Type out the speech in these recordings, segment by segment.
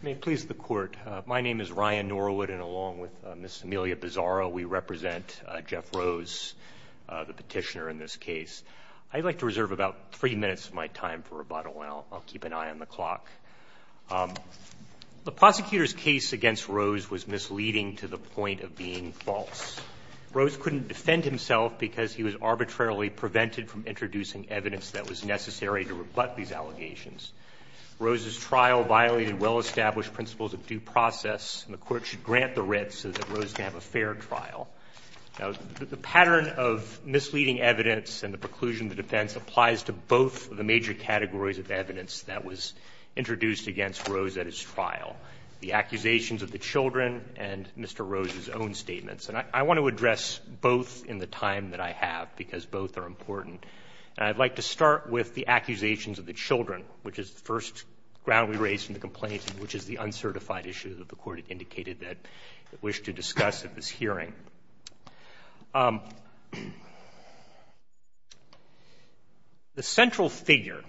May it please the Court, my name is Ryan Norwood, and along with Ms. Amelia Bizzaro, we represent Jeff Rose, the petitioner in this case. I'd like to reserve about three minutes of my time for rebuttal, and I'll keep an eye on the clock. The prosecutor's case against Rose was misleading to the point of being false. Rose couldn't defend himself because he was arbitrarily prevented from introducing evidence that was necessary to rebut these allegations. Rose's trial violated well-established principles of due process, and the Court should grant the writ so that Rose can have a fair trial. The pattern of misleading evidence and the preclusion of defense applies to both of the major categories of evidence that was introduced against Rose at his trial, the accusations of the children and Mr. Rose's own statements. And I want to address both in the time that I have, because both are important, and I'd like to start with the accusations of the children, which is the first ground we raise in the complaint, which is the uncertified issue that the Court indicated that it wished to discuss at this hearing. The central figure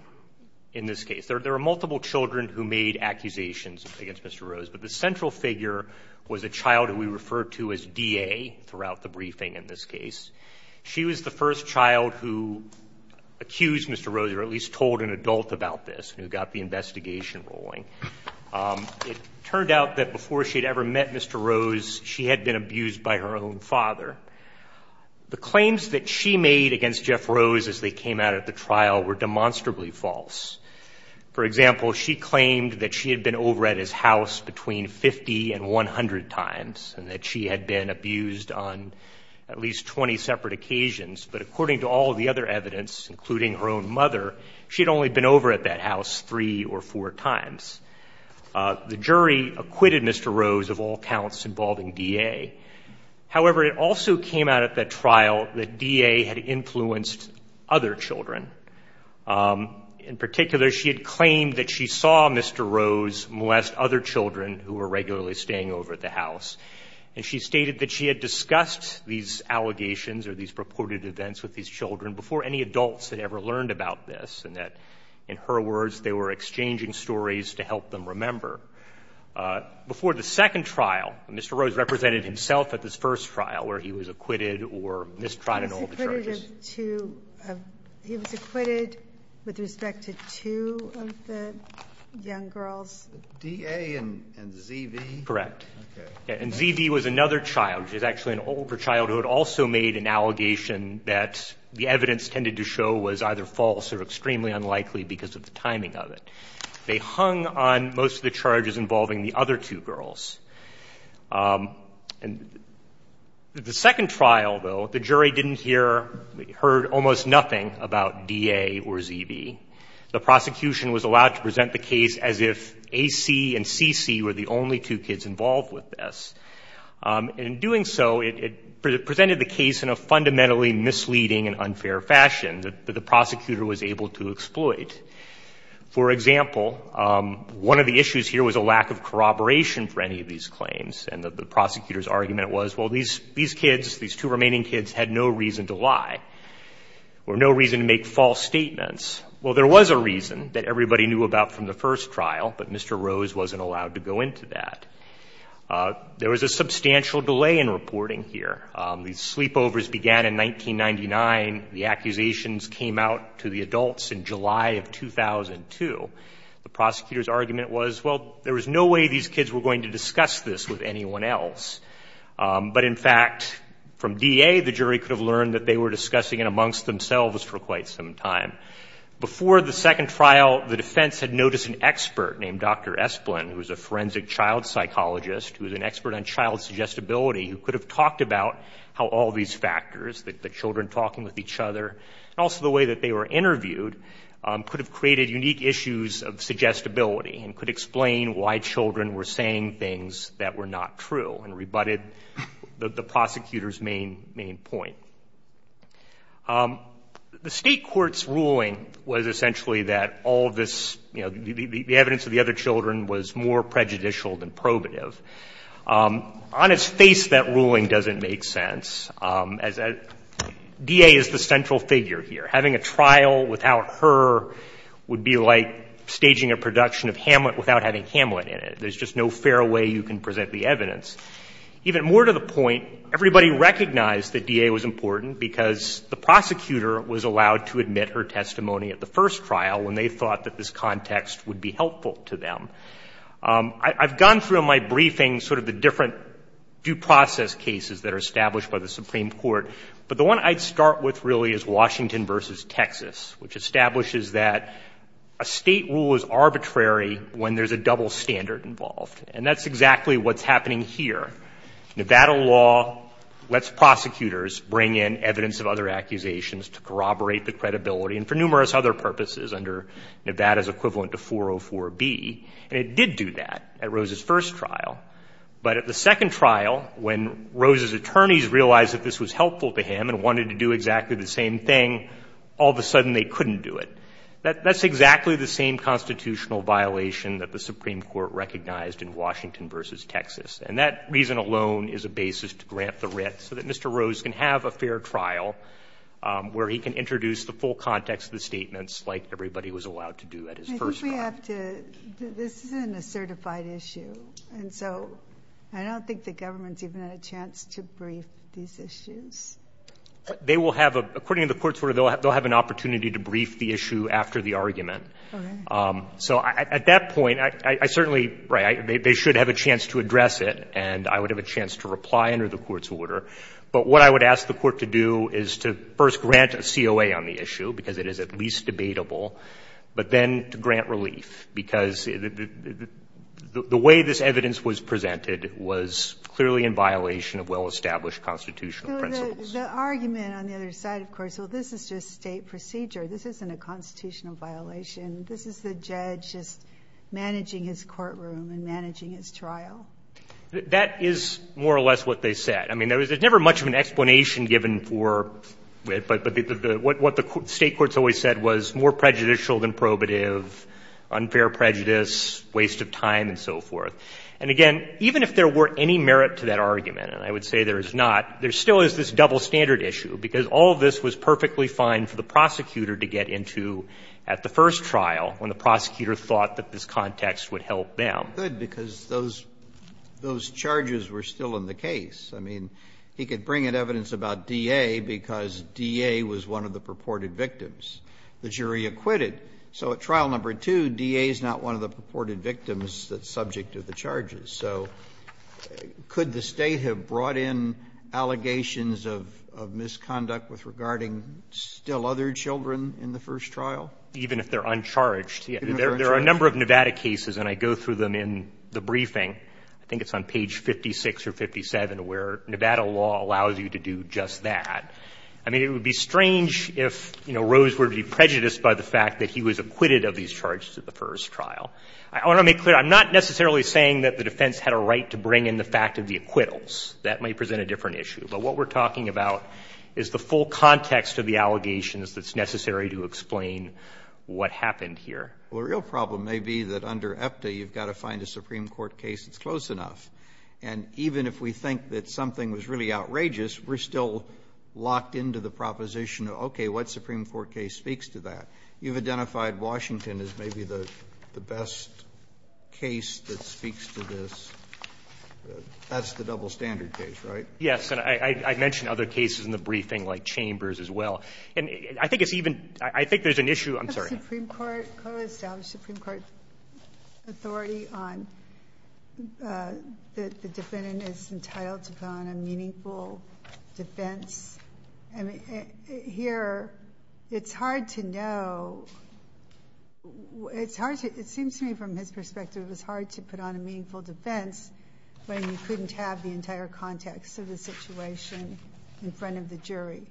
in this case, there are multiple children who made accusations against Mr. Rose, but the central figure was a child who we refer to as D.A. throughout the briefing in this case. She was the first child who accused Mr. Rose, or at least told an adult about this, who got the investigation rolling. It turned out that before she had ever met Mr. Rose, she had been abused by her own father. The claims that she made against Jeff Rose as they came out at the trial were demonstrably false. For example, she claimed that she had been over at his house between 50 and 100 times, and that she had been abused on at least 20 separate occasions. But according to all of the other evidence, including her own mother, she had only been over at that house three or four times. The jury acquitted Mr. Rose of all counts involving D.A. However, it also came out at that trial that D.A. had influenced other children. In particular, she had claimed that she saw Mr. Rose molest other children who were regularly staying over at the house, and she stated that she had discussed these allegations or these purported events with these children before any adults had ever learned about this, and that, in her words, they were exchanging stories to help them remember. Before the second trial, Mr. Rose represented himself at this first trial where he was acquitted or mistrided all the charges. He was acquitted of two of the young girls. D.A. and Z.V.? Correct. Okay. And Z.V. was another child, which is actually an older childhood, also made an allegation that the evidence tended to show was either false or extremely unlikely because of the timing of it. They hung on most of the charges involving the other two girls. And the second trial, though, the jury didn't hear, heard almost nothing about D.A. or Z.V. The prosecution was allowed to present the case as if A.C. and C.C. were the only two kids involved with this. In doing so, it presented the case in a fundamentally misleading and unfair fashion that the prosecutor was able to exploit. For example, one of the issues here was a lack of corroboration for any of these claims. And the prosecutor's argument was, well, these kids, these two remaining kids, had no reason to lie or no reason to make false statements. Well, there was a reason that everybody knew about from the first trial, but Mr. Rose wasn't allowed to go into that. There was a substantial delay in reporting here. These sleepovers began in 1999. The accusations came out to the adults in July of 2002. The prosecutor's argument was, well, there was no way these kids were going to discuss this with anyone else. But in fact, from D.A., the jury could have learned that they were discussing it amongst themselves for quite some time. Before the second trial, the defense had noticed an expert named Dr. Esplin, who was a forensic child psychologist, who was an expert on child suggestibility, who could have talked about how all these factors, the children talking with each other, and also the way that they were interviewed, could have created unique issues of suggestibility and could explain why children were saying things that were not true and rebutted the prosecutor's main point. The State Court's ruling was essentially that all this, you know, the evidence of the other children was more prejudicial than probative. On its face, that ruling doesn't make sense, as D.A. is the central figure here. Having a trial without her would be like staging a production of Hamlet without having Hamlet in it. Even more to the point, everybody recognized that D.A. was important because the prosecutor was allowed to admit her testimony at the first trial when they thought that this context would be helpful to them. I've gone through in my briefing sort of the different due process cases that are established by the Supreme Court, but the one I'd start with really is Washington v. Texas, which establishes that a State rule is arbitrary when there's a double standard involved. And that's exactly what's happening here. Nevada law lets prosecutors bring in evidence of other accusations to corroborate the credibility and for numerous other purposes under Nevada's equivalent to 404B, and it did do that at Rose's first trial. But at the second trial, when Rose's attorneys realized that this was helpful to him and wanted to do exactly the same thing, all of a sudden they couldn't do it. That's exactly the same constitutional violation that the Supreme Court recognized in Washington v. Texas. And that reason alone is a basis to grant the writ so that Mr. Rose can have a fair trial where he can introduce the full context of the statements like everybody was allowed to do at his first trial. I think we have to – this isn't a certified issue, and so I don't think the government's even had a chance to brief these issues. They will have a – according to the court's order, they'll have an opportunity to brief the issue after the argument. So at that point, I certainly – they should have a chance to address it, and I would have a chance to reply under the court's order. But what I would ask the court to do is to first grant a COA on the issue, because it is at least debatable, but then to grant relief, because the way this evidence was presented was clearly in violation of well-established constitutional principles. So the argument on the other side, of course, well, this is just state procedure. This isn't a constitutional violation. This is the judge just managing his courtroom and managing his trial. That is more or less what they said. I mean, there was never much of an explanation given for it, but what the State courts always said was more prejudicial than probative, unfair prejudice, waste of time, and so forth. And again, even if there were any merit to that argument, and I would say there is not, there still is this double standard issue, because all of this was perfectly fine for the prosecutor to get into at the first trial, when the prosecutor thought that this context would help them. Roberts. Good, because those charges were still in the case. I mean, he could bring in evidence about DA because DA was one of the purported victims. The jury acquitted. So at trial number 2, DA is not one of the purported victims that's subject to the charges. So could the State have brought in allegations of misconduct with regarding still other children in the first trial? Even if they're uncharged. There are a number of Nevada cases, and I go through them in the briefing. I think it's on page 56 or 57, where Nevada law allows you to do just that. I mean, it would be strange if, you know, Rose were to be prejudiced by the fact that he was acquitted of these charges at the first trial. I want to make clear, I'm not necessarily saying that the defense had a right to bring in the fact of the acquittals. That might present a different issue. But what we're talking about is the full context of the allegations that's necessary to explain what happened here. Roberts. Well, a real problem may be that under EPTA, you've got to find a Supreme Court case that's close enough. And even if we think that something was really outrageous, we're still locked into the proposition, okay, what Supreme Court case speaks to that? You've identified Washington as maybe the best case that speaks to this. That's the double standard case, right? Yes. And I mentioned other cases in the briefing, like Chambers as well. And I think it's even – I think there's an issue – I'm sorry. The Supreme Court – clearly established Supreme Court authority on that the defendant is entitled to put on a meaningful defense. I mean, here, it's hard to know – it's hard to – it seems to me from his perspective, it was hard to put on a meaningful defense when you couldn't have the entire context of the situation in front of the jury.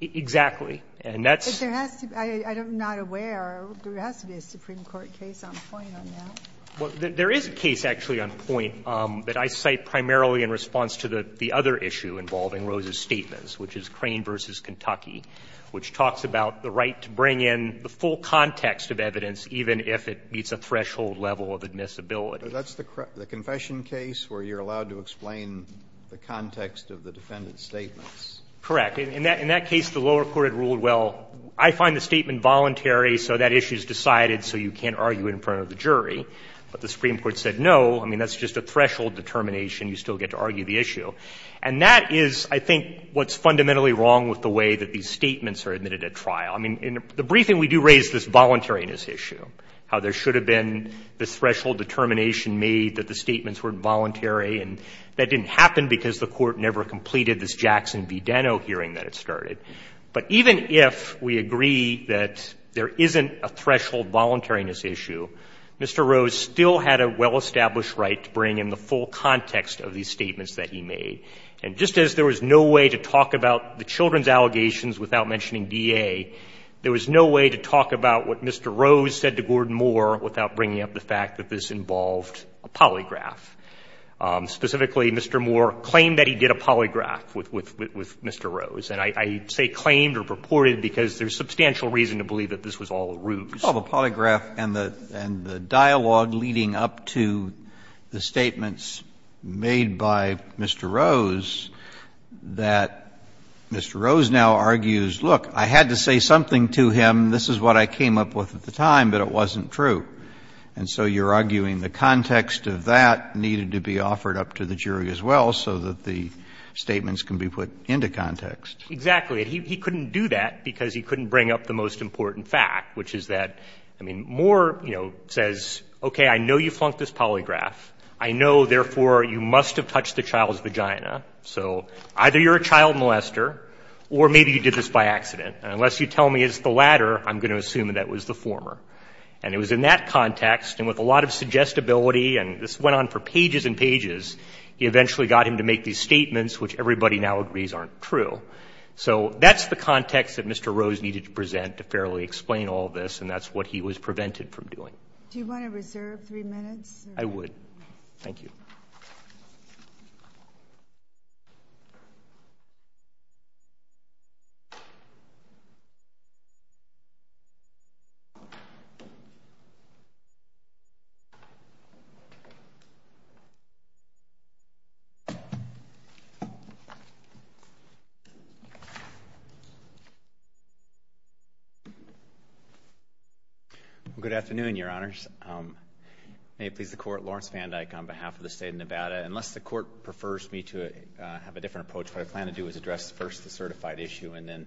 Exactly. And that's – But there has to be – I'm not aware. There has to be a Supreme Court case on point on that. Well, there is a case actually on point that I cite primarily in response to the other issue involving Rose's statements, which is Crane v. Kentucky, which talks about the right to bring in the full context of evidence even if it meets a threshold level of admissibility. So that's the confession case where you're allowed to explain the context of the defendant's statements? Correct. In that case, the lower court had ruled, well, I find the statement voluntary, so that issue is decided, so you can't argue it in front of the jury. But the Supreme Court said no. I mean, that's just a threshold determination. You still get to argue the issue. And that is, I think, what's fundamentally wrong with the way that these statements are admitted at trial. I mean, in the briefing, we do raise this voluntariness issue, how there should have been this threshold determination made that the statements were voluntary. And that didn't happen because the Court never completed this Jackson v. Deno hearing that it started. But even if we agree that there isn't a threshold voluntariness issue, Mr. Rose still had a well-established right to bring in the full context of these statements that he made. And just as there was no way to talk about the children's allegations without mentioning DA, there was no way to talk about what Mr. Rose said to Gordon Moore without bringing up the fact that this involved a polygraph. Specifically, Mr. Moore claimed that he did a polygraph with Mr. Rose. And I say claimed or purported because there's substantial reason to believe that this was all a ruse. Roberts, and the dialogue leading up to the statements made by Mr. Rose, that Mr. Rose now argues, look, I had to say something to him, this is what I came up with at the time, but it wasn't true. And so you're arguing the context of that needed to be offered up to the jury as well so that the statements can be put into context. Exactly. He couldn't do that because he couldn't bring up the most important fact, which is that, I mean, Moore, you know, says, okay, I know you flunked this polygraph. I know, therefore, you must have touched the child's vagina. So either you're a child molester or maybe you did this by accident. Unless you tell me it's the latter, I'm going to assume that that was the former. And it was in that context, and with a lot of suggestibility, and this went on for pages and pages, he eventually got him to make these statements, which everybody now agrees aren't true. So that's the context that Mr. Rose needed to present to fairly explain all this, and that's what he was prevented from doing. Do you want to reserve three minutes? I would. Thank you. Thank you. Good afternoon, Your Honors. May it please the Court, Lawrence Van Dyke on behalf of the state of Nevada. Unless the court prefers me to have a different approach, what I plan to do is address first the certified issue and then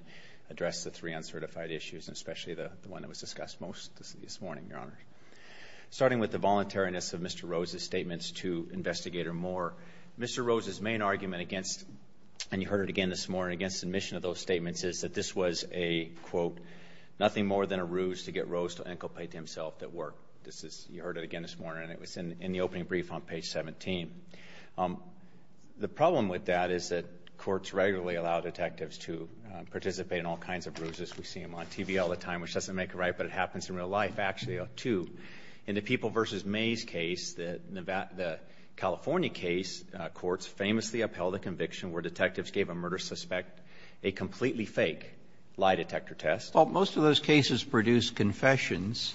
address the three uncertified issues, especially the one that was discussed most this morning, Your Honors. Starting with the voluntariness of Mr. Rose's statements to Investigator Moore, Mr. Rose's main argument against, and you heard it again this morning, against submission of those statements is that this was a, quote, nothing more than a ruse to get Rose to inculpate himself at work. This is, you heard it again this morning, and it was in the opening brief on page 17. The problem with that is that courts regularly allow detectives to participate in all kinds of ruses. We see them on TV all the time, which doesn't make it right, but it happens in real life, actually, too. In the People v. May's case, the California case, courts famously upheld a conviction where detectives gave a murder suspect a completely fake lie detector test. Well, most of those cases produced confessions.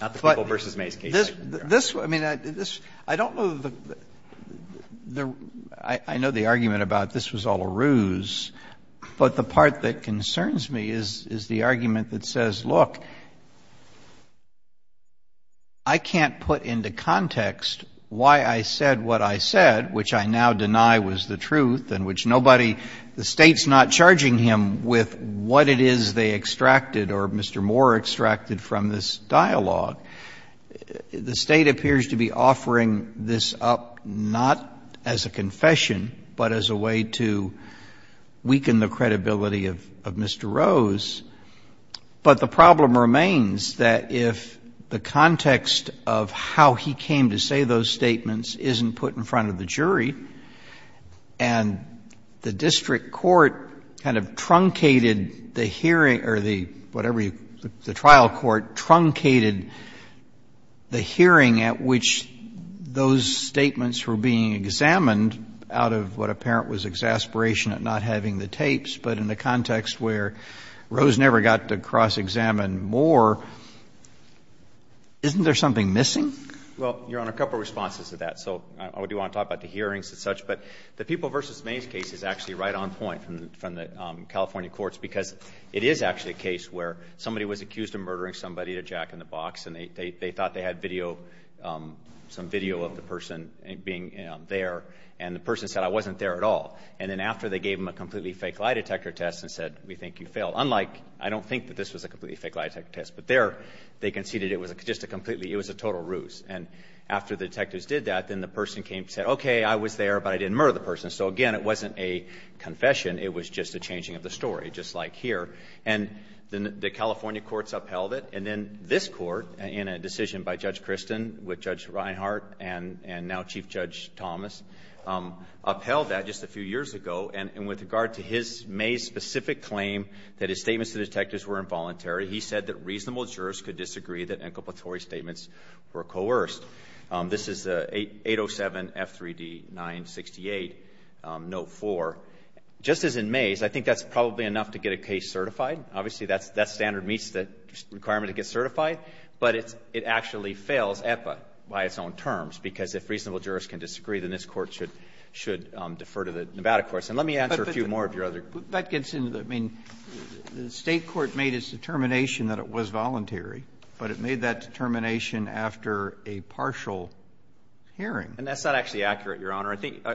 Not the People v. May's case. This, I mean, this, I don't know the, I know the argument about this was all a ruse, but the part that concerns me is the argument that says, look, I can't put into context why I said what I said, which I now deny was the truth, and which nobody, the State's not charging him with what it is they extracted or Mr. Moore extracted from this dialogue. The State appears to be offering this up not as a confession, but as a way to, you know, weaken the credibility of Mr. Rose. But the problem remains that if the context of how he came to say those statements isn't put in front of the jury, and the district court kind of truncated the hearing or the, whatever you, the trial court truncated the hearing at which those statements were being examined out of what apparent was exasperation at not having the tapes, but in the context where Rose never got to cross-examine Moore, isn't there something missing? Well, Your Honor, a couple of responses to that. So I do want to talk about the hearings and such, but the People v. May's case is actually right on point from the California courts because it is actually a case where somebody was accused of murdering somebody to jack in the box, and they thought they had video, some video of the person being there, and the person said, I wasn't there at all. And then after they gave him a completely fake lie detector test and said, we think you failed. Unlike, I don't think that this was a completely fake lie detector test, but there they conceded it was just a completely, it was a total ruse. And after the detectives did that, then the person came and said, okay, I was there, but I didn't murder the person. So again, it wasn't a confession. It was just a changing of the story, just like here. And the California courts upheld it. And then this Court, in a decision by Judge Kristin with Judge Reinhart and now Chief Judge Thomas, upheld that just a few years ago. And with regard to his May's specific claim that his statements to the detectives were involuntary, he said that reasonable jurors could disagree that inculpatory statements were coerced. This is 807-F3D-968, note 4. Just as in May's, I think that's probably enough to get a case certified. Obviously, that standard meets the requirement to get certified, but it actually fails EPA by its own terms, because if reasonable jurors can disagree, then this Court should defer to the Nevada courts. And let me answer a few more of your other questions. Roberts, that gets into the, I mean, the State court made its determination that it was voluntary, but it made that determination after a partial hearing. And that's not actually accurate, Your Honor. I think,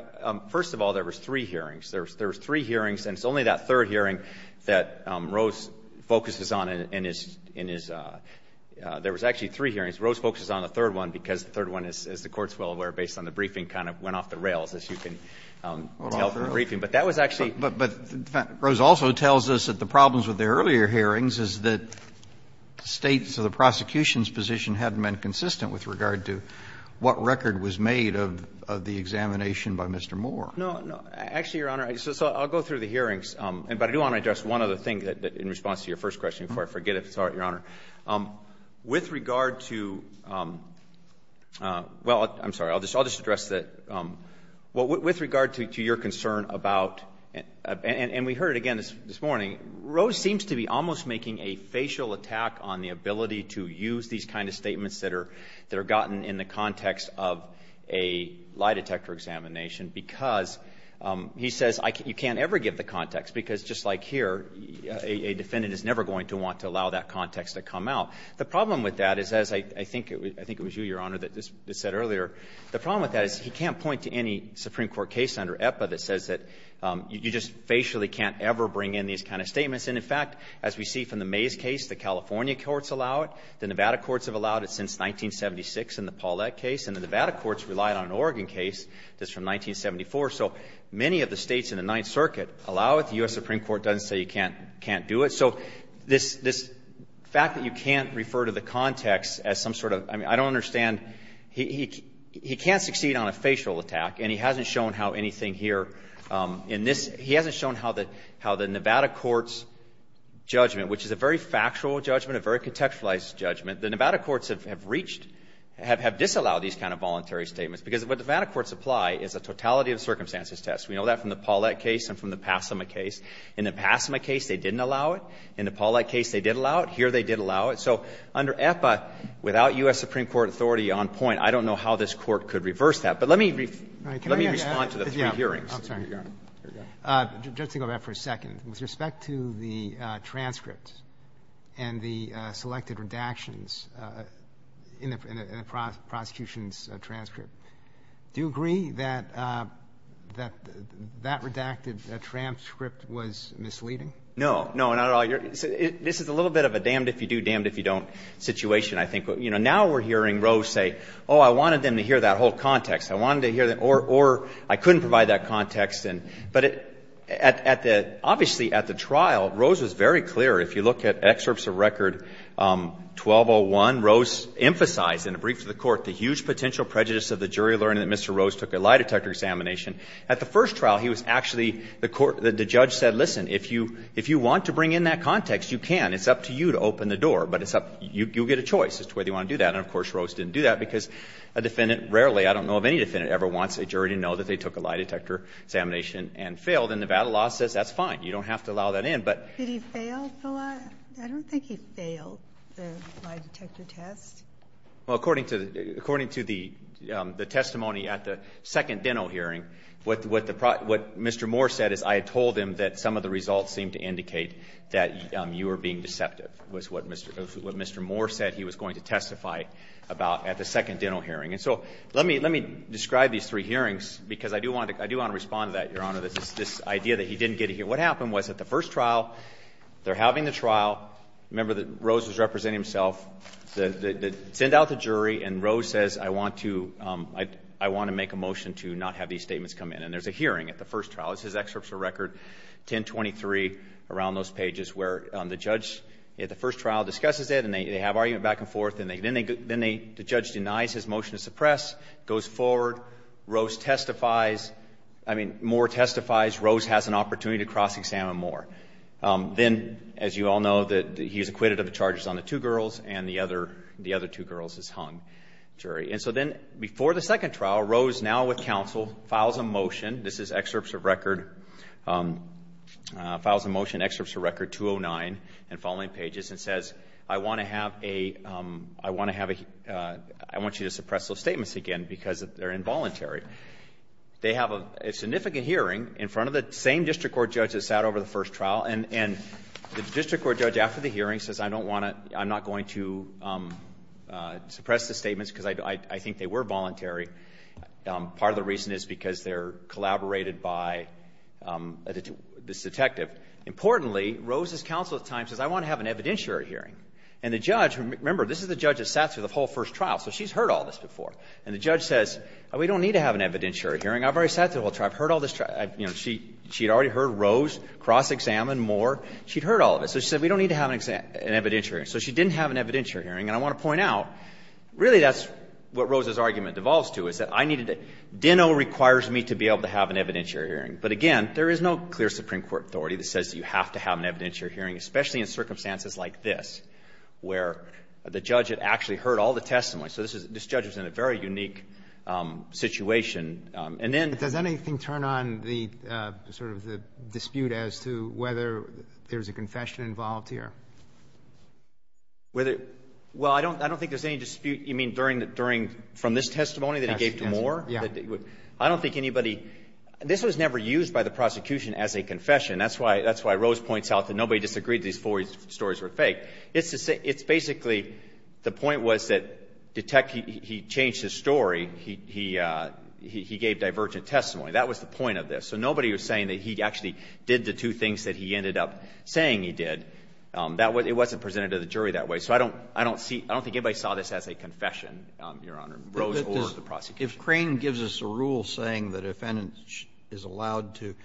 first of all, there was three hearings. There was three hearings, and it's only that third hearing that Rose focuses on in his – in his – there was actually three hearings. Rose focuses on the third one, because the third one, as the Court's well aware, based on the briefing, kind of went off the rails, as you can tell from the briefing. But that was actually – But, but, but Rose also tells us that the problems with the earlier hearings is that the States or the prosecution's position hadn't been consistent with regard to what record was made of the examination by Mr. Moore. No, no. Actually, Your Honor, so I'll go through the hearings. But I do want to address one other thing that – in response to your first question, before I forget it. Sorry, Your Honor. With regard to – well, I'm sorry. I'll just address the – well, with regard to your concern about – and we heard it again this morning – Rose seems to be almost making a facial attack on the ability to use these kind of statements that are – that are gotten in the context of a lie detector examination, because he says you can't ever give the context, because just like here, a defendant is never going to want to allow that context to come out. The problem with that is, as I think it was you, Your Honor, that said earlier, the problem with that is he can't point to any Supreme Court case under EPA that says that you just facially can't ever bring in these kind of statements. And, in fact, as we see from the Mays case, the California courts allow it, the Nevada courts have allowed it since 1976 in the Paulette case, and the Nevada courts relied on an Oregon case just from 1974. So many of the states in the Ninth Circuit allow it. The U.S. Supreme Court doesn't say you can't do it. So this fact that you can't refer to the context as some sort of – I mean, I don't understand – he can't succeed on a facial attack, and he hasn't shown how anything here in this – he hasn't shown how the Nevada courts' judgment, which is a very factual judgment, a very contextualized judgment, the Nevada courts have reached – because what the Nevada courts apply is a totality of circumstances test. We know that from the Paulette case and from the Passama case. In the Passama case, they didn't allow it. In the Paulette case, they did allow it. Here, they did allow it. So under EPA, without U.S. Supreme Court authority on point, I don't know how this Court could reverse that. But let me respond to the three hearings. Roberts. Just to go back for a second. With respect to the transcripts and the selected redactions in the prosecution's transcript, do you agree that that redacted transcript was misleading? No. No, not at all. This is a little bit of a damned if you do, damned if you don't situation, I think. Now we're hearing Rose say, oh, I wanted them to hear that whole context. I wanted to hear that – or I couldn't provide that context. But at the – obviously, at the trial, Rose was very clear. If you look at excerpts of record 1201, Rose emphasized in a brief to the Court the huge potential prejudice of the jury learning that Mr. Rose took a lie detector examination. At the first trial, he was actually – the court – the judge said, listen, if you want to bring in that context, you can. It's up to you to open the door. But it's up – you get a choice as to whether you want to do that. And of course, Rose didn't do that because a defendant rarely – I don't know of any defendant ever wants a jury to know that they took a lie detector examination and failed. And Nevada law says that's fine. You don't have to allow that in. But – Did he fail the lie – I don't think he failed the lie detector test. Well, according to the – according to the testimony at the second dental hearing, what the – what Mr. Moore said is I had told him that some of the results seemed to indicate that you were being deceptive, was what Mr. – what Mr. Moore said he was going to testify about at the second dental hearing. And so let me – let me describe these three hearings because I do want to – I do want to respond to that, Your Honor, this idea that he didn't get a hearing. What happened was at the first trial, they're having the trial. Remember that Rose was representing himself. They send out the jury and Rose says I want to – I want to make a motion to not have these statements come in. And there's a hearing at the first trial. This is excerpts from record 1023 around those pages where the judge at the first trial discusses it and they have argument back and forth. And then they – the judge denies his motion to suppress, goes forward, Rose testifies – I mean, Moore testifies, Rose has an opportunity to cross-examine Moore. Then, as you all know, that he's acquitted of the charges on the two girls and the other – the other two girls is hung, jury. And so then before the second trial, Rose now with counsel files a motion. This is excerpts of record – files a motion, excerpts of record 209 and following pages and says I want to have a – I want to have a – I want you to suppress those statements again because they're involuntary. They have a significant hearing in front of the same district court judge that sat over the first trial. And the district court judge after the hearing says I don't want to – I'm not going to suppress the statements because I think they were voluntary. Part of the reason is because they're collaborated by this detective. Importantly, Rose's counsel at the time says I want to have an evidentiary hearing. And the judge – remember, this is the judge that sat through the whole first trial, so she's heard all this before. And the judge says we don't need to have an evidentiary hearing. I've already sat through the whole trial. I've heard all this trial. I've – you know, she had already heard Rose cross-examine Moore. She'd heard all of it. So she said we don't need to have an evidentiary hearing. So she didn't have an evidentiary hearing. And I want to point out, really that's what Rose's argument devolves to, is that I needed to – Dinno requires me to be able to have an evidentiary hearing. But again, there is no clear Supreme Court authority that says you have to have an evidentiary hearing, especially in circumstances like this, where the judge had actually heard all the testimony. So this is – this judge was in a very unique situation. And then – And what is the – sort of the dispute as to whether there's a confession involved here? Whether – well, I don't – I don't think there's any dispute. You mean during – from this testimony that he gave to Moore? Yeah. I don't think anybody – this was never used by the prosecution as a confession. That's why – that's why Rose points out that nobody disagreed these four stories were fake. It's basically – the point was that – he changed his story. He gave divergent testimony. That was the point of this. So nobody was saying that he actually did the two things that he ended up saying he did. That was – it wasn't presented to the jury that way. So I don't – I don't see – I don't think anybody saw this as a confession, Your Honor, Rose or the prosecution. If Crane gives us a rule saying that a defendant is allowed to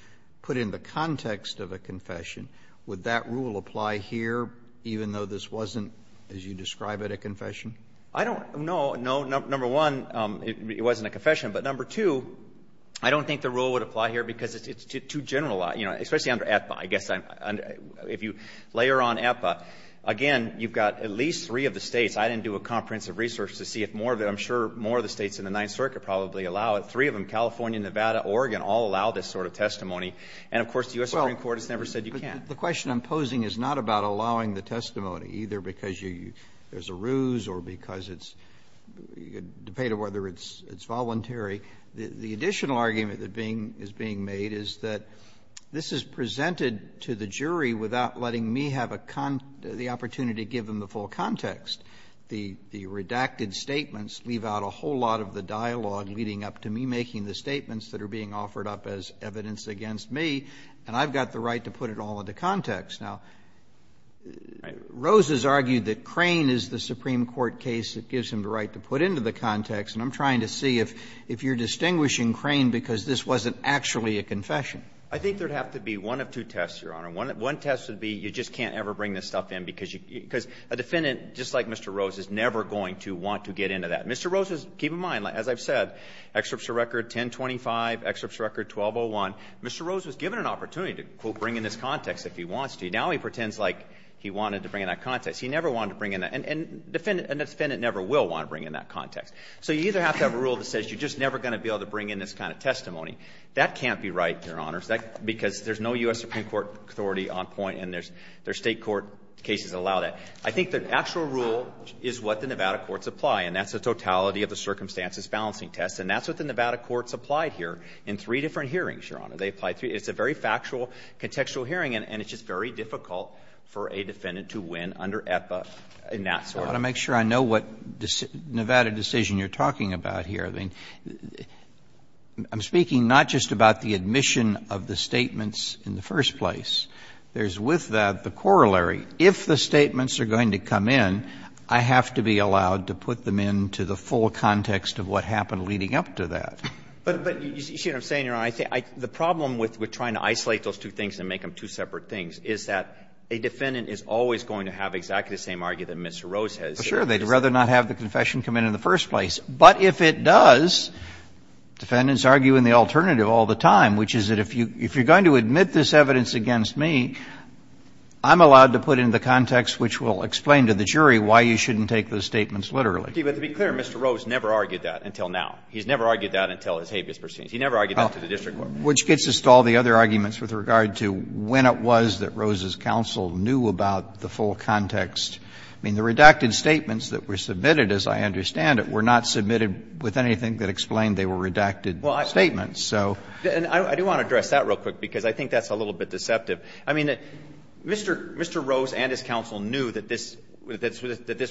put in the context of a confession, would that rule apply here, even though this wasn't, as you describe it, a confession? I don't – no, no. Number one, it wasn't a confession. But number two, I don't think the rule would apply here because it's too generalized, you know, especially under APPA. I guess I'm – if you layer on APPA, again, you've got at least three of the states. I didn't do a comprehensive research to see if more of the – I'm sure more of the states in the Ninth Circuit probably allow it. Three of them, California, Nevada, Oregon, all allow this sort of testimony. And, of course, the U.S. Supreme Court has never said you can't. The question I'm posing is not about allowing the testimony, either because you – there's a ruse or because it's – you can debate whether it's voluntary. The additional argument that being – is being made is that this is presented to the jury without letting me have a – the opportunity to give them the full context. The redacted statements leave out a whole lot of the dialogue leading up to me making the statements that are being offered up as evidence against me, and I've got the right to put it all into context. Now, Rose has argued that Crane is the Supreme Court case that gives him the right to put into the context, and I'm trying to see if you're distinguishing Crane because this wasn't actually a confession. I think there would have to be one of two tests, Your Honor. One test would be you just can't ever bring this stuff in because you – because a defendant, just like Mr. Rose, is never going to want to get into that. Mr. Rose was – keep in mind, as I've said, excerpts of record 1025, excerpts of record 1201, Mr. Rose was given an opportunity to, quote, bring in this context if he wants to. Now he pretends like he wanted to bring in that context. He never wanted to bring in that – and a defendant never will want to bring in that context. So you either have to have a rule that says you're just never going to be able to bring in this kind of testimony. That can't be right, Your Honor, because there's no U.S. Supreme Court authority on point and there's – there's State court cases that allow that. I think the actual rule is what the Nevada courts apply, and that's the totality of the circumstances balancing test, and that's what the Nevada courts applied here in three different hearings, Your Honor. They applied three – it's a very factual, contextual hearing, and it's just very difficult for a defendant to win under EPA and that sort of thing. Roberts, I want to make sure I know what Nevada decision you're talking about here. I mean, I'm speaking not just about the admission of the statements in the first place. There's with that the corollary. If the statements are going to come in, I have to be allowed to put them into the full context of what happened leading up to that. But you see what I'm saying, Your Honor? I think the problem with trying to isolate those two things and make them two separate things is that a defendant is always going to have exactly the same argument that Mr. Rose has. Sure, they'd rather not have the confession come in in the first place, but if it does, defendants argue in the alternative all the time, which is that if you're going to admit this evidence against me, I'm allowed to put it into the context which will explain to the jury why you shouldn't take those statements literally. But to be clear, Mr. Rose never argued that until now. He's never argued that until his habeas pursuance. He never argued that to the district court. Well, which gets us to all the other arguments with regard to when it was that Rose's counsel knew about the full context. I mean, the redacted statements that were submitted, as I understand it, were not submitted with anything that explained they were redacted statements, so. And I do want to address that real quick, because I think that's a little bit deceptive. I mean, Mr. Rose and his counsel knew that this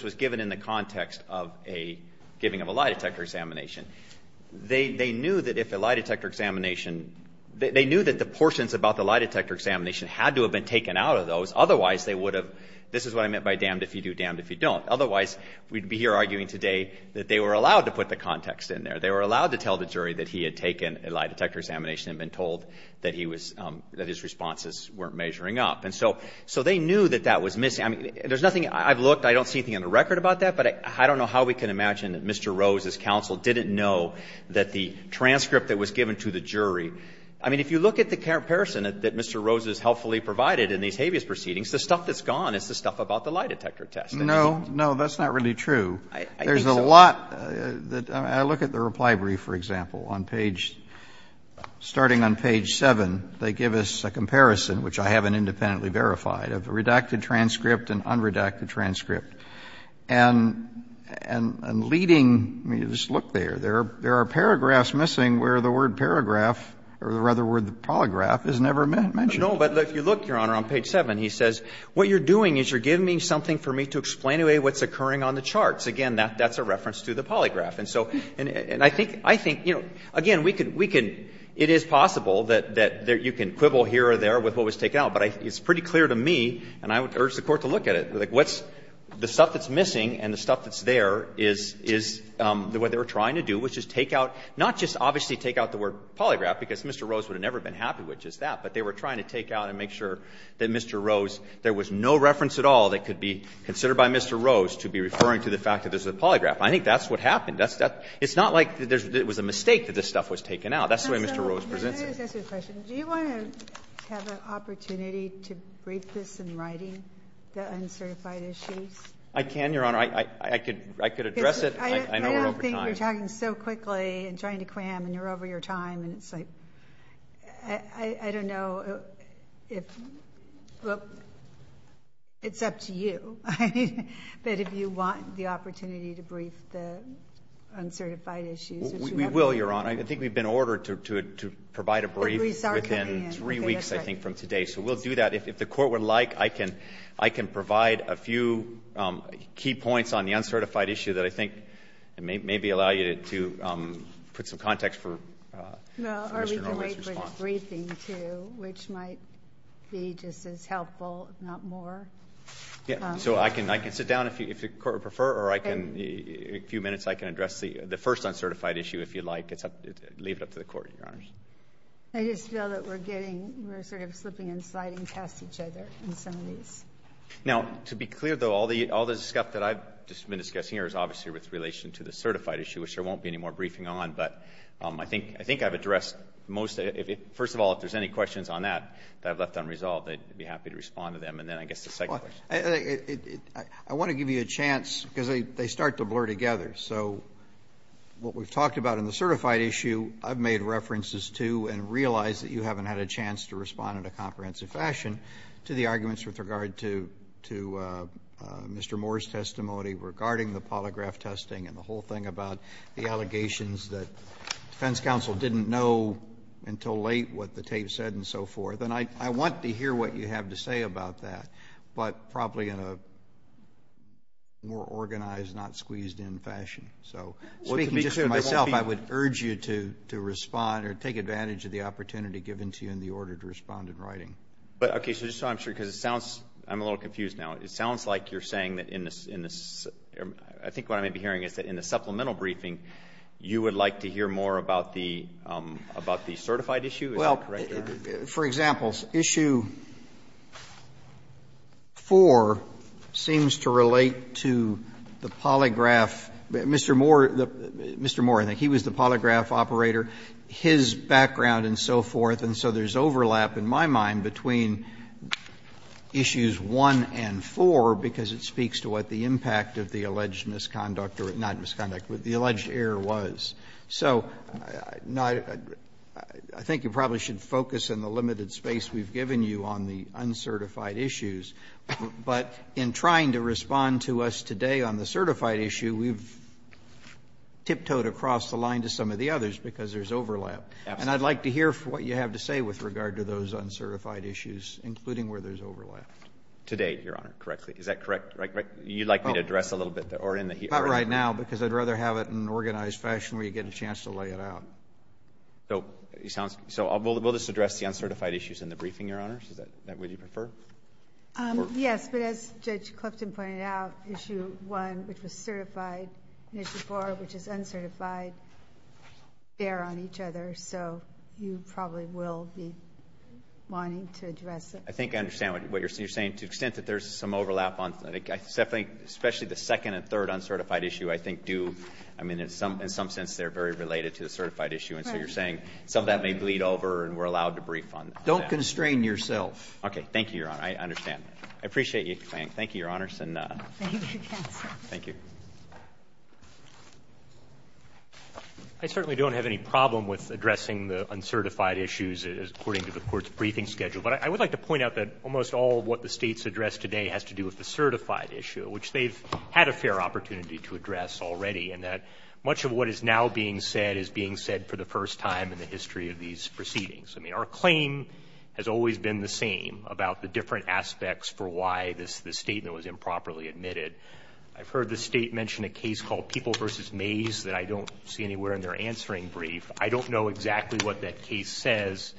was given in the context of a giving of a lie detector examination. They knew that if a lie detector examination, they knew that the portions about the lie detector examination had to have been taken out of those. Otherwise, they would have, this is what I meant by damned if you do, damned if you don't. Otherwise, we'd be here arguing today that they were allowed to put the context in there. They were allowed to tell the jury that he had taken a lie detector examination and been told that his responses weren't measuring up. And so they knew that that was missing. I mean, there's nothing, I've looked, I don't see anything on the record about that, but I don't know how we can imagine that Mr. Rose's counsel didn't know that the transcript that was given to the jury, I mean, if you look at the comparison that Mr. Rose has helpfully provided in these habeas proceedings, the stuff that's gone is the stuff about the lie detector test. No, no, that's not really true. There's a lot, I look at the reply brief, for example, on page, starting on page 7, they give us a comparison, which I haven't independently verified, of a redacted transcript and unredacted transcript. And leading, I mean, just look there. There are paragraphs missing where the word paragraph, or rather the word polygraph is never mentioned. No, but if you look, Your Honor, on page 7, he says, What you're doing is you're giving me something for me to explain away what's occurring on the charts. Again, that's a reference to the polygraph. And so, and I think, you know, again, we can, it is possible that you can quibble here or there with what was taken out, but it's pretty clear to me, and I urge you and I urge the Court to look at it, like what's, the stuff that's missing and the stuff that's there is, is, the way they were trying to do was just take out, not just obviously take out the word polygraph, because Mr. Rose would have never been happy with just that, but they were trying to take out and make sure that Mr. Rose, there was no reference at all that could be considered by Mr. Rose to be referring to the fact that there's a polygraph. I think that's what happened. It's not like it was a mistake that this stuff was taken out. That's the way Mr. Rose presents it. I just have a question. Do you want to have an opportunity to brief this in writing, the uncertified issues? I can, Your Honor. I could, I could address it. I know we're over time. I don't think you're talking so quickly and trying to cram and you're over your time and it's like, I don't know if, well, it's up to you, but if you want the uncertified issues, we will, Your Honor. I think we've been ordered to, to, to provide a brief within three weeks, I think, from today. So we'll do that. If the court would like, I can, I can provide a few key points on the uncertified issue that I think it may maybe allow you to, to put some context for Mr. Rose's response. Briefing too, which might be just as helpful, if not more. Yeah. So I can, I can sit down if you, if the court would prefer, or I can, a few minutes, I can address the, the first uncertified issue, if you'd like. It's up, leave it up to the court, Your Honors. I just know that we're getting, we're sort of slipping and sliding past each other in some of these. Now, to be clear though, all the, all the stuff that I've just been discussing here is obviously with relation to the certified issue, which there won't be any more briefing on. But I think, I think I've addressed most of it. First of all, if there's any questions on that, that I've left unresolved, I'd be happy to respond to them. And then I guess the second question. I, I, I want to give you a chance, because they, they start to blur together. So what we've talked about in the certified issue, I've made references to and realized that you haven't had a chance to respond in a comprehensive fashion to the arguments with regard to, to Mr. Moore's testimony regarding the polygraph testing and the whole thing about the allegations that defense counsel didn't know until late what the tape said and so forth. And I, I want to hear what you have to say about that. But probably in a more organized, not squeezed in fashion. So speaking just to myself, I would urge you to, to respond or take advantage of the opportunity given to you in the order to respond in writing. But, okay. So just so I'm sure, because it sounds, I'm a little confused now. It sounds like you're saying that in this, in this, I think what I may be hearing is that in the supplemental briefing, you would like to hear more about the, about the certified issue. Is that correct? For example, issue 4 seems to relate to the polygraph. Mr. Moore, Mr. Moore, I think, he was the polygraph operator, his background and so forth, and so there's overlap in my mind between issues 1 and 4, because it speaks to what the impact of the alleged misconduct, or not misconduct, but the alleged error was. So, no, I think you probably should focus in the limited space we've given you on the uncertified issues. But in trying to respond to us today on the certified issue, we've tiptoed across the line to some of the others because there's overlap. And I'd like to hear what you have to say with regard to those uncertified issues, including where there's overlap. Today, Your Honor, correctly. Is that correct? Right, right. You'd like me to address a little bit there, or in the here and now, because I'd like to have it in an organized fashion where you get a chance to lay it out. So, it sounds, so we'll just address the uncertified issues in the briefing, Your Honor, is that what you prefer? Yes. But as Judge Clifton pointed out, issue 1, which was certified, and issue 4, which is uncertified, bear on each other. So, you probably will be wanting to address it. I think I understand what you're saying. To the extent that there's some overlap on, I think, especially the second and third issue, I think do, I mean, in some sense, they're very related to the certified issue. And so, you're saying some of that may bleed over and we're allowed to brief on that. Don't constrain yourself. Okay. Thank you, Your Honor. I understand. I appreciate you explaining. Thank you, Your Honors. And thank you. I certainly don't have any problem with addressing the uncertified issues according to the Court's briefing schedule. But I would like to point out that almost all of what the States address today has to do with the certified issue, which they've had a fair opportunity to address already, and that much of what is now being said is being said for the first time in the history of these proceedings. I mean, our claim has always been the same about the different aspects for why this statement was improperly admitted. I've heard the State mention a case called People v. Mays that I don't see anywhere in their answering brief. I don't know exactly what that case says,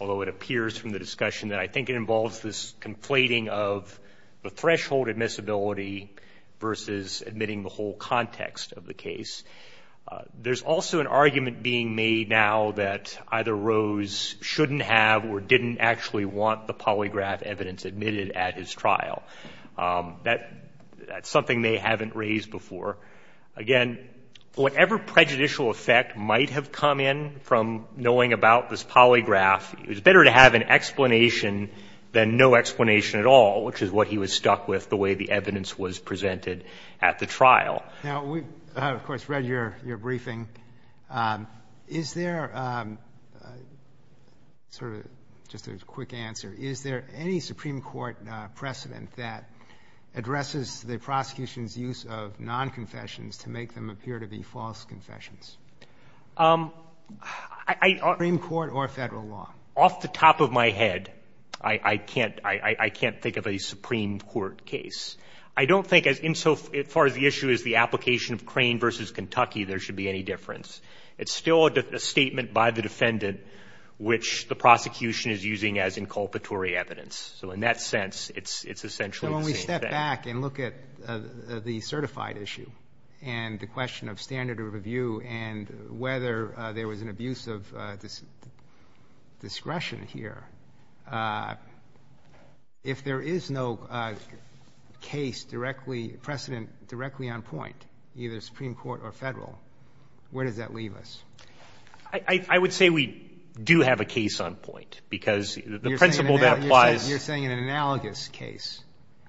although it appears from the discussion that I think it involves this conflating of the threshold admissibility versus admitting the whole context of the case. There's also an argument being made now that either Rose shouldn't have or didn't actually want the polygraph evidence admitted at his trial. That's something they haven't raised before. Again, whatever prejudicial effect might have come in from knowing about this situation, then no explanation at all, which is what he was stuck with the way the evidence was presented at the trial. Now, we have, of course, read your briefing. Is there sort of just a quick answer? Is there any Supreme Court precedent that addresses the prosecution's use of non-confessions to make them appear to be false confessions? Supreme Court or federal law? Off the top of my head, I can't think of a Supreme Court case. I don't think insofar as the issue is the application of Crane v. Kentucky, there should be any difference. It's still a statement by the defendant which the prosecution is using as inculpatory evidence. So in that sense, it's essentially the same thing. So when we step back and look at the certified issue and the question of standard of view and whether there was an abuse of discretion here, if there is no case directly precedent, directly on point, either Supreme Court or federal, where does that leave us? I would say we do have a case on point, because the principle that applies. You're saying an analogous case.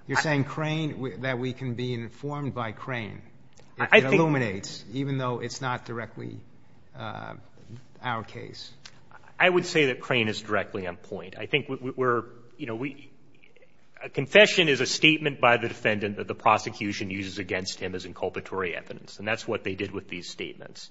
You're saying Crane, that we can be informed by Crane. It illuminates, even though it's not directly our case. I would say that Crane is directly on point. I think we're, you know, we – a confession is a statement by the defendant that the prosecution uses against him as inculpatory evidence. And that's what they did with these statements.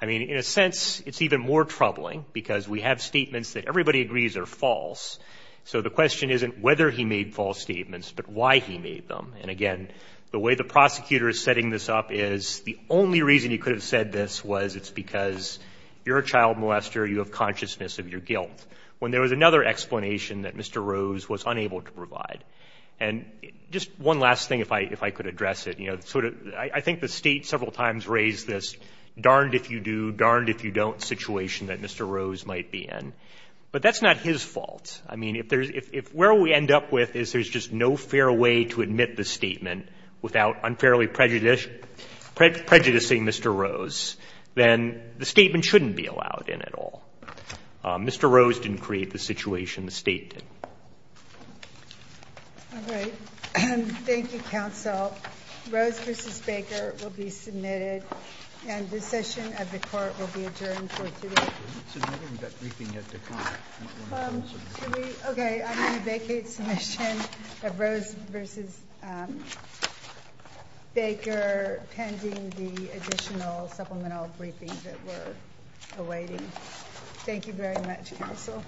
I mean, in a sense, it's even more troubling, because we have statements that everybody agrees are false. So the question isn't whether he made false statements, but why he made them. And again, the way the prosecutor is setting this up is the only reason he could have said this was it's because you're a child molester, you have consciousness of your guilt, when there was another explanation that Mr. Rose was unable to provide. And just one last thing, if I could address it. You know, sort of – I think the State several times raised this darned-if-you-do, darned-if-you-don't situation that Mr. Rose might be in, but that's not his fault. I mean, if there's – if where we end up with is there's just no fair way to admit the statement without unfairly prejudicing Mr. Rose, then the statement shouldn't be allowed in at all. Mr. Rose didn't create the situation the State did. Ginsburg. All right. Thank you, counsel. Rose v. Baker will be submitted, and the session of the Court will be adjourned for today. We're not submitting that briefing yet to Congress. Okay. I'm going to vacate submission of Rose v. Baker pending the additional supplemental briefing that we're awaiting. Thank you very much, counsel.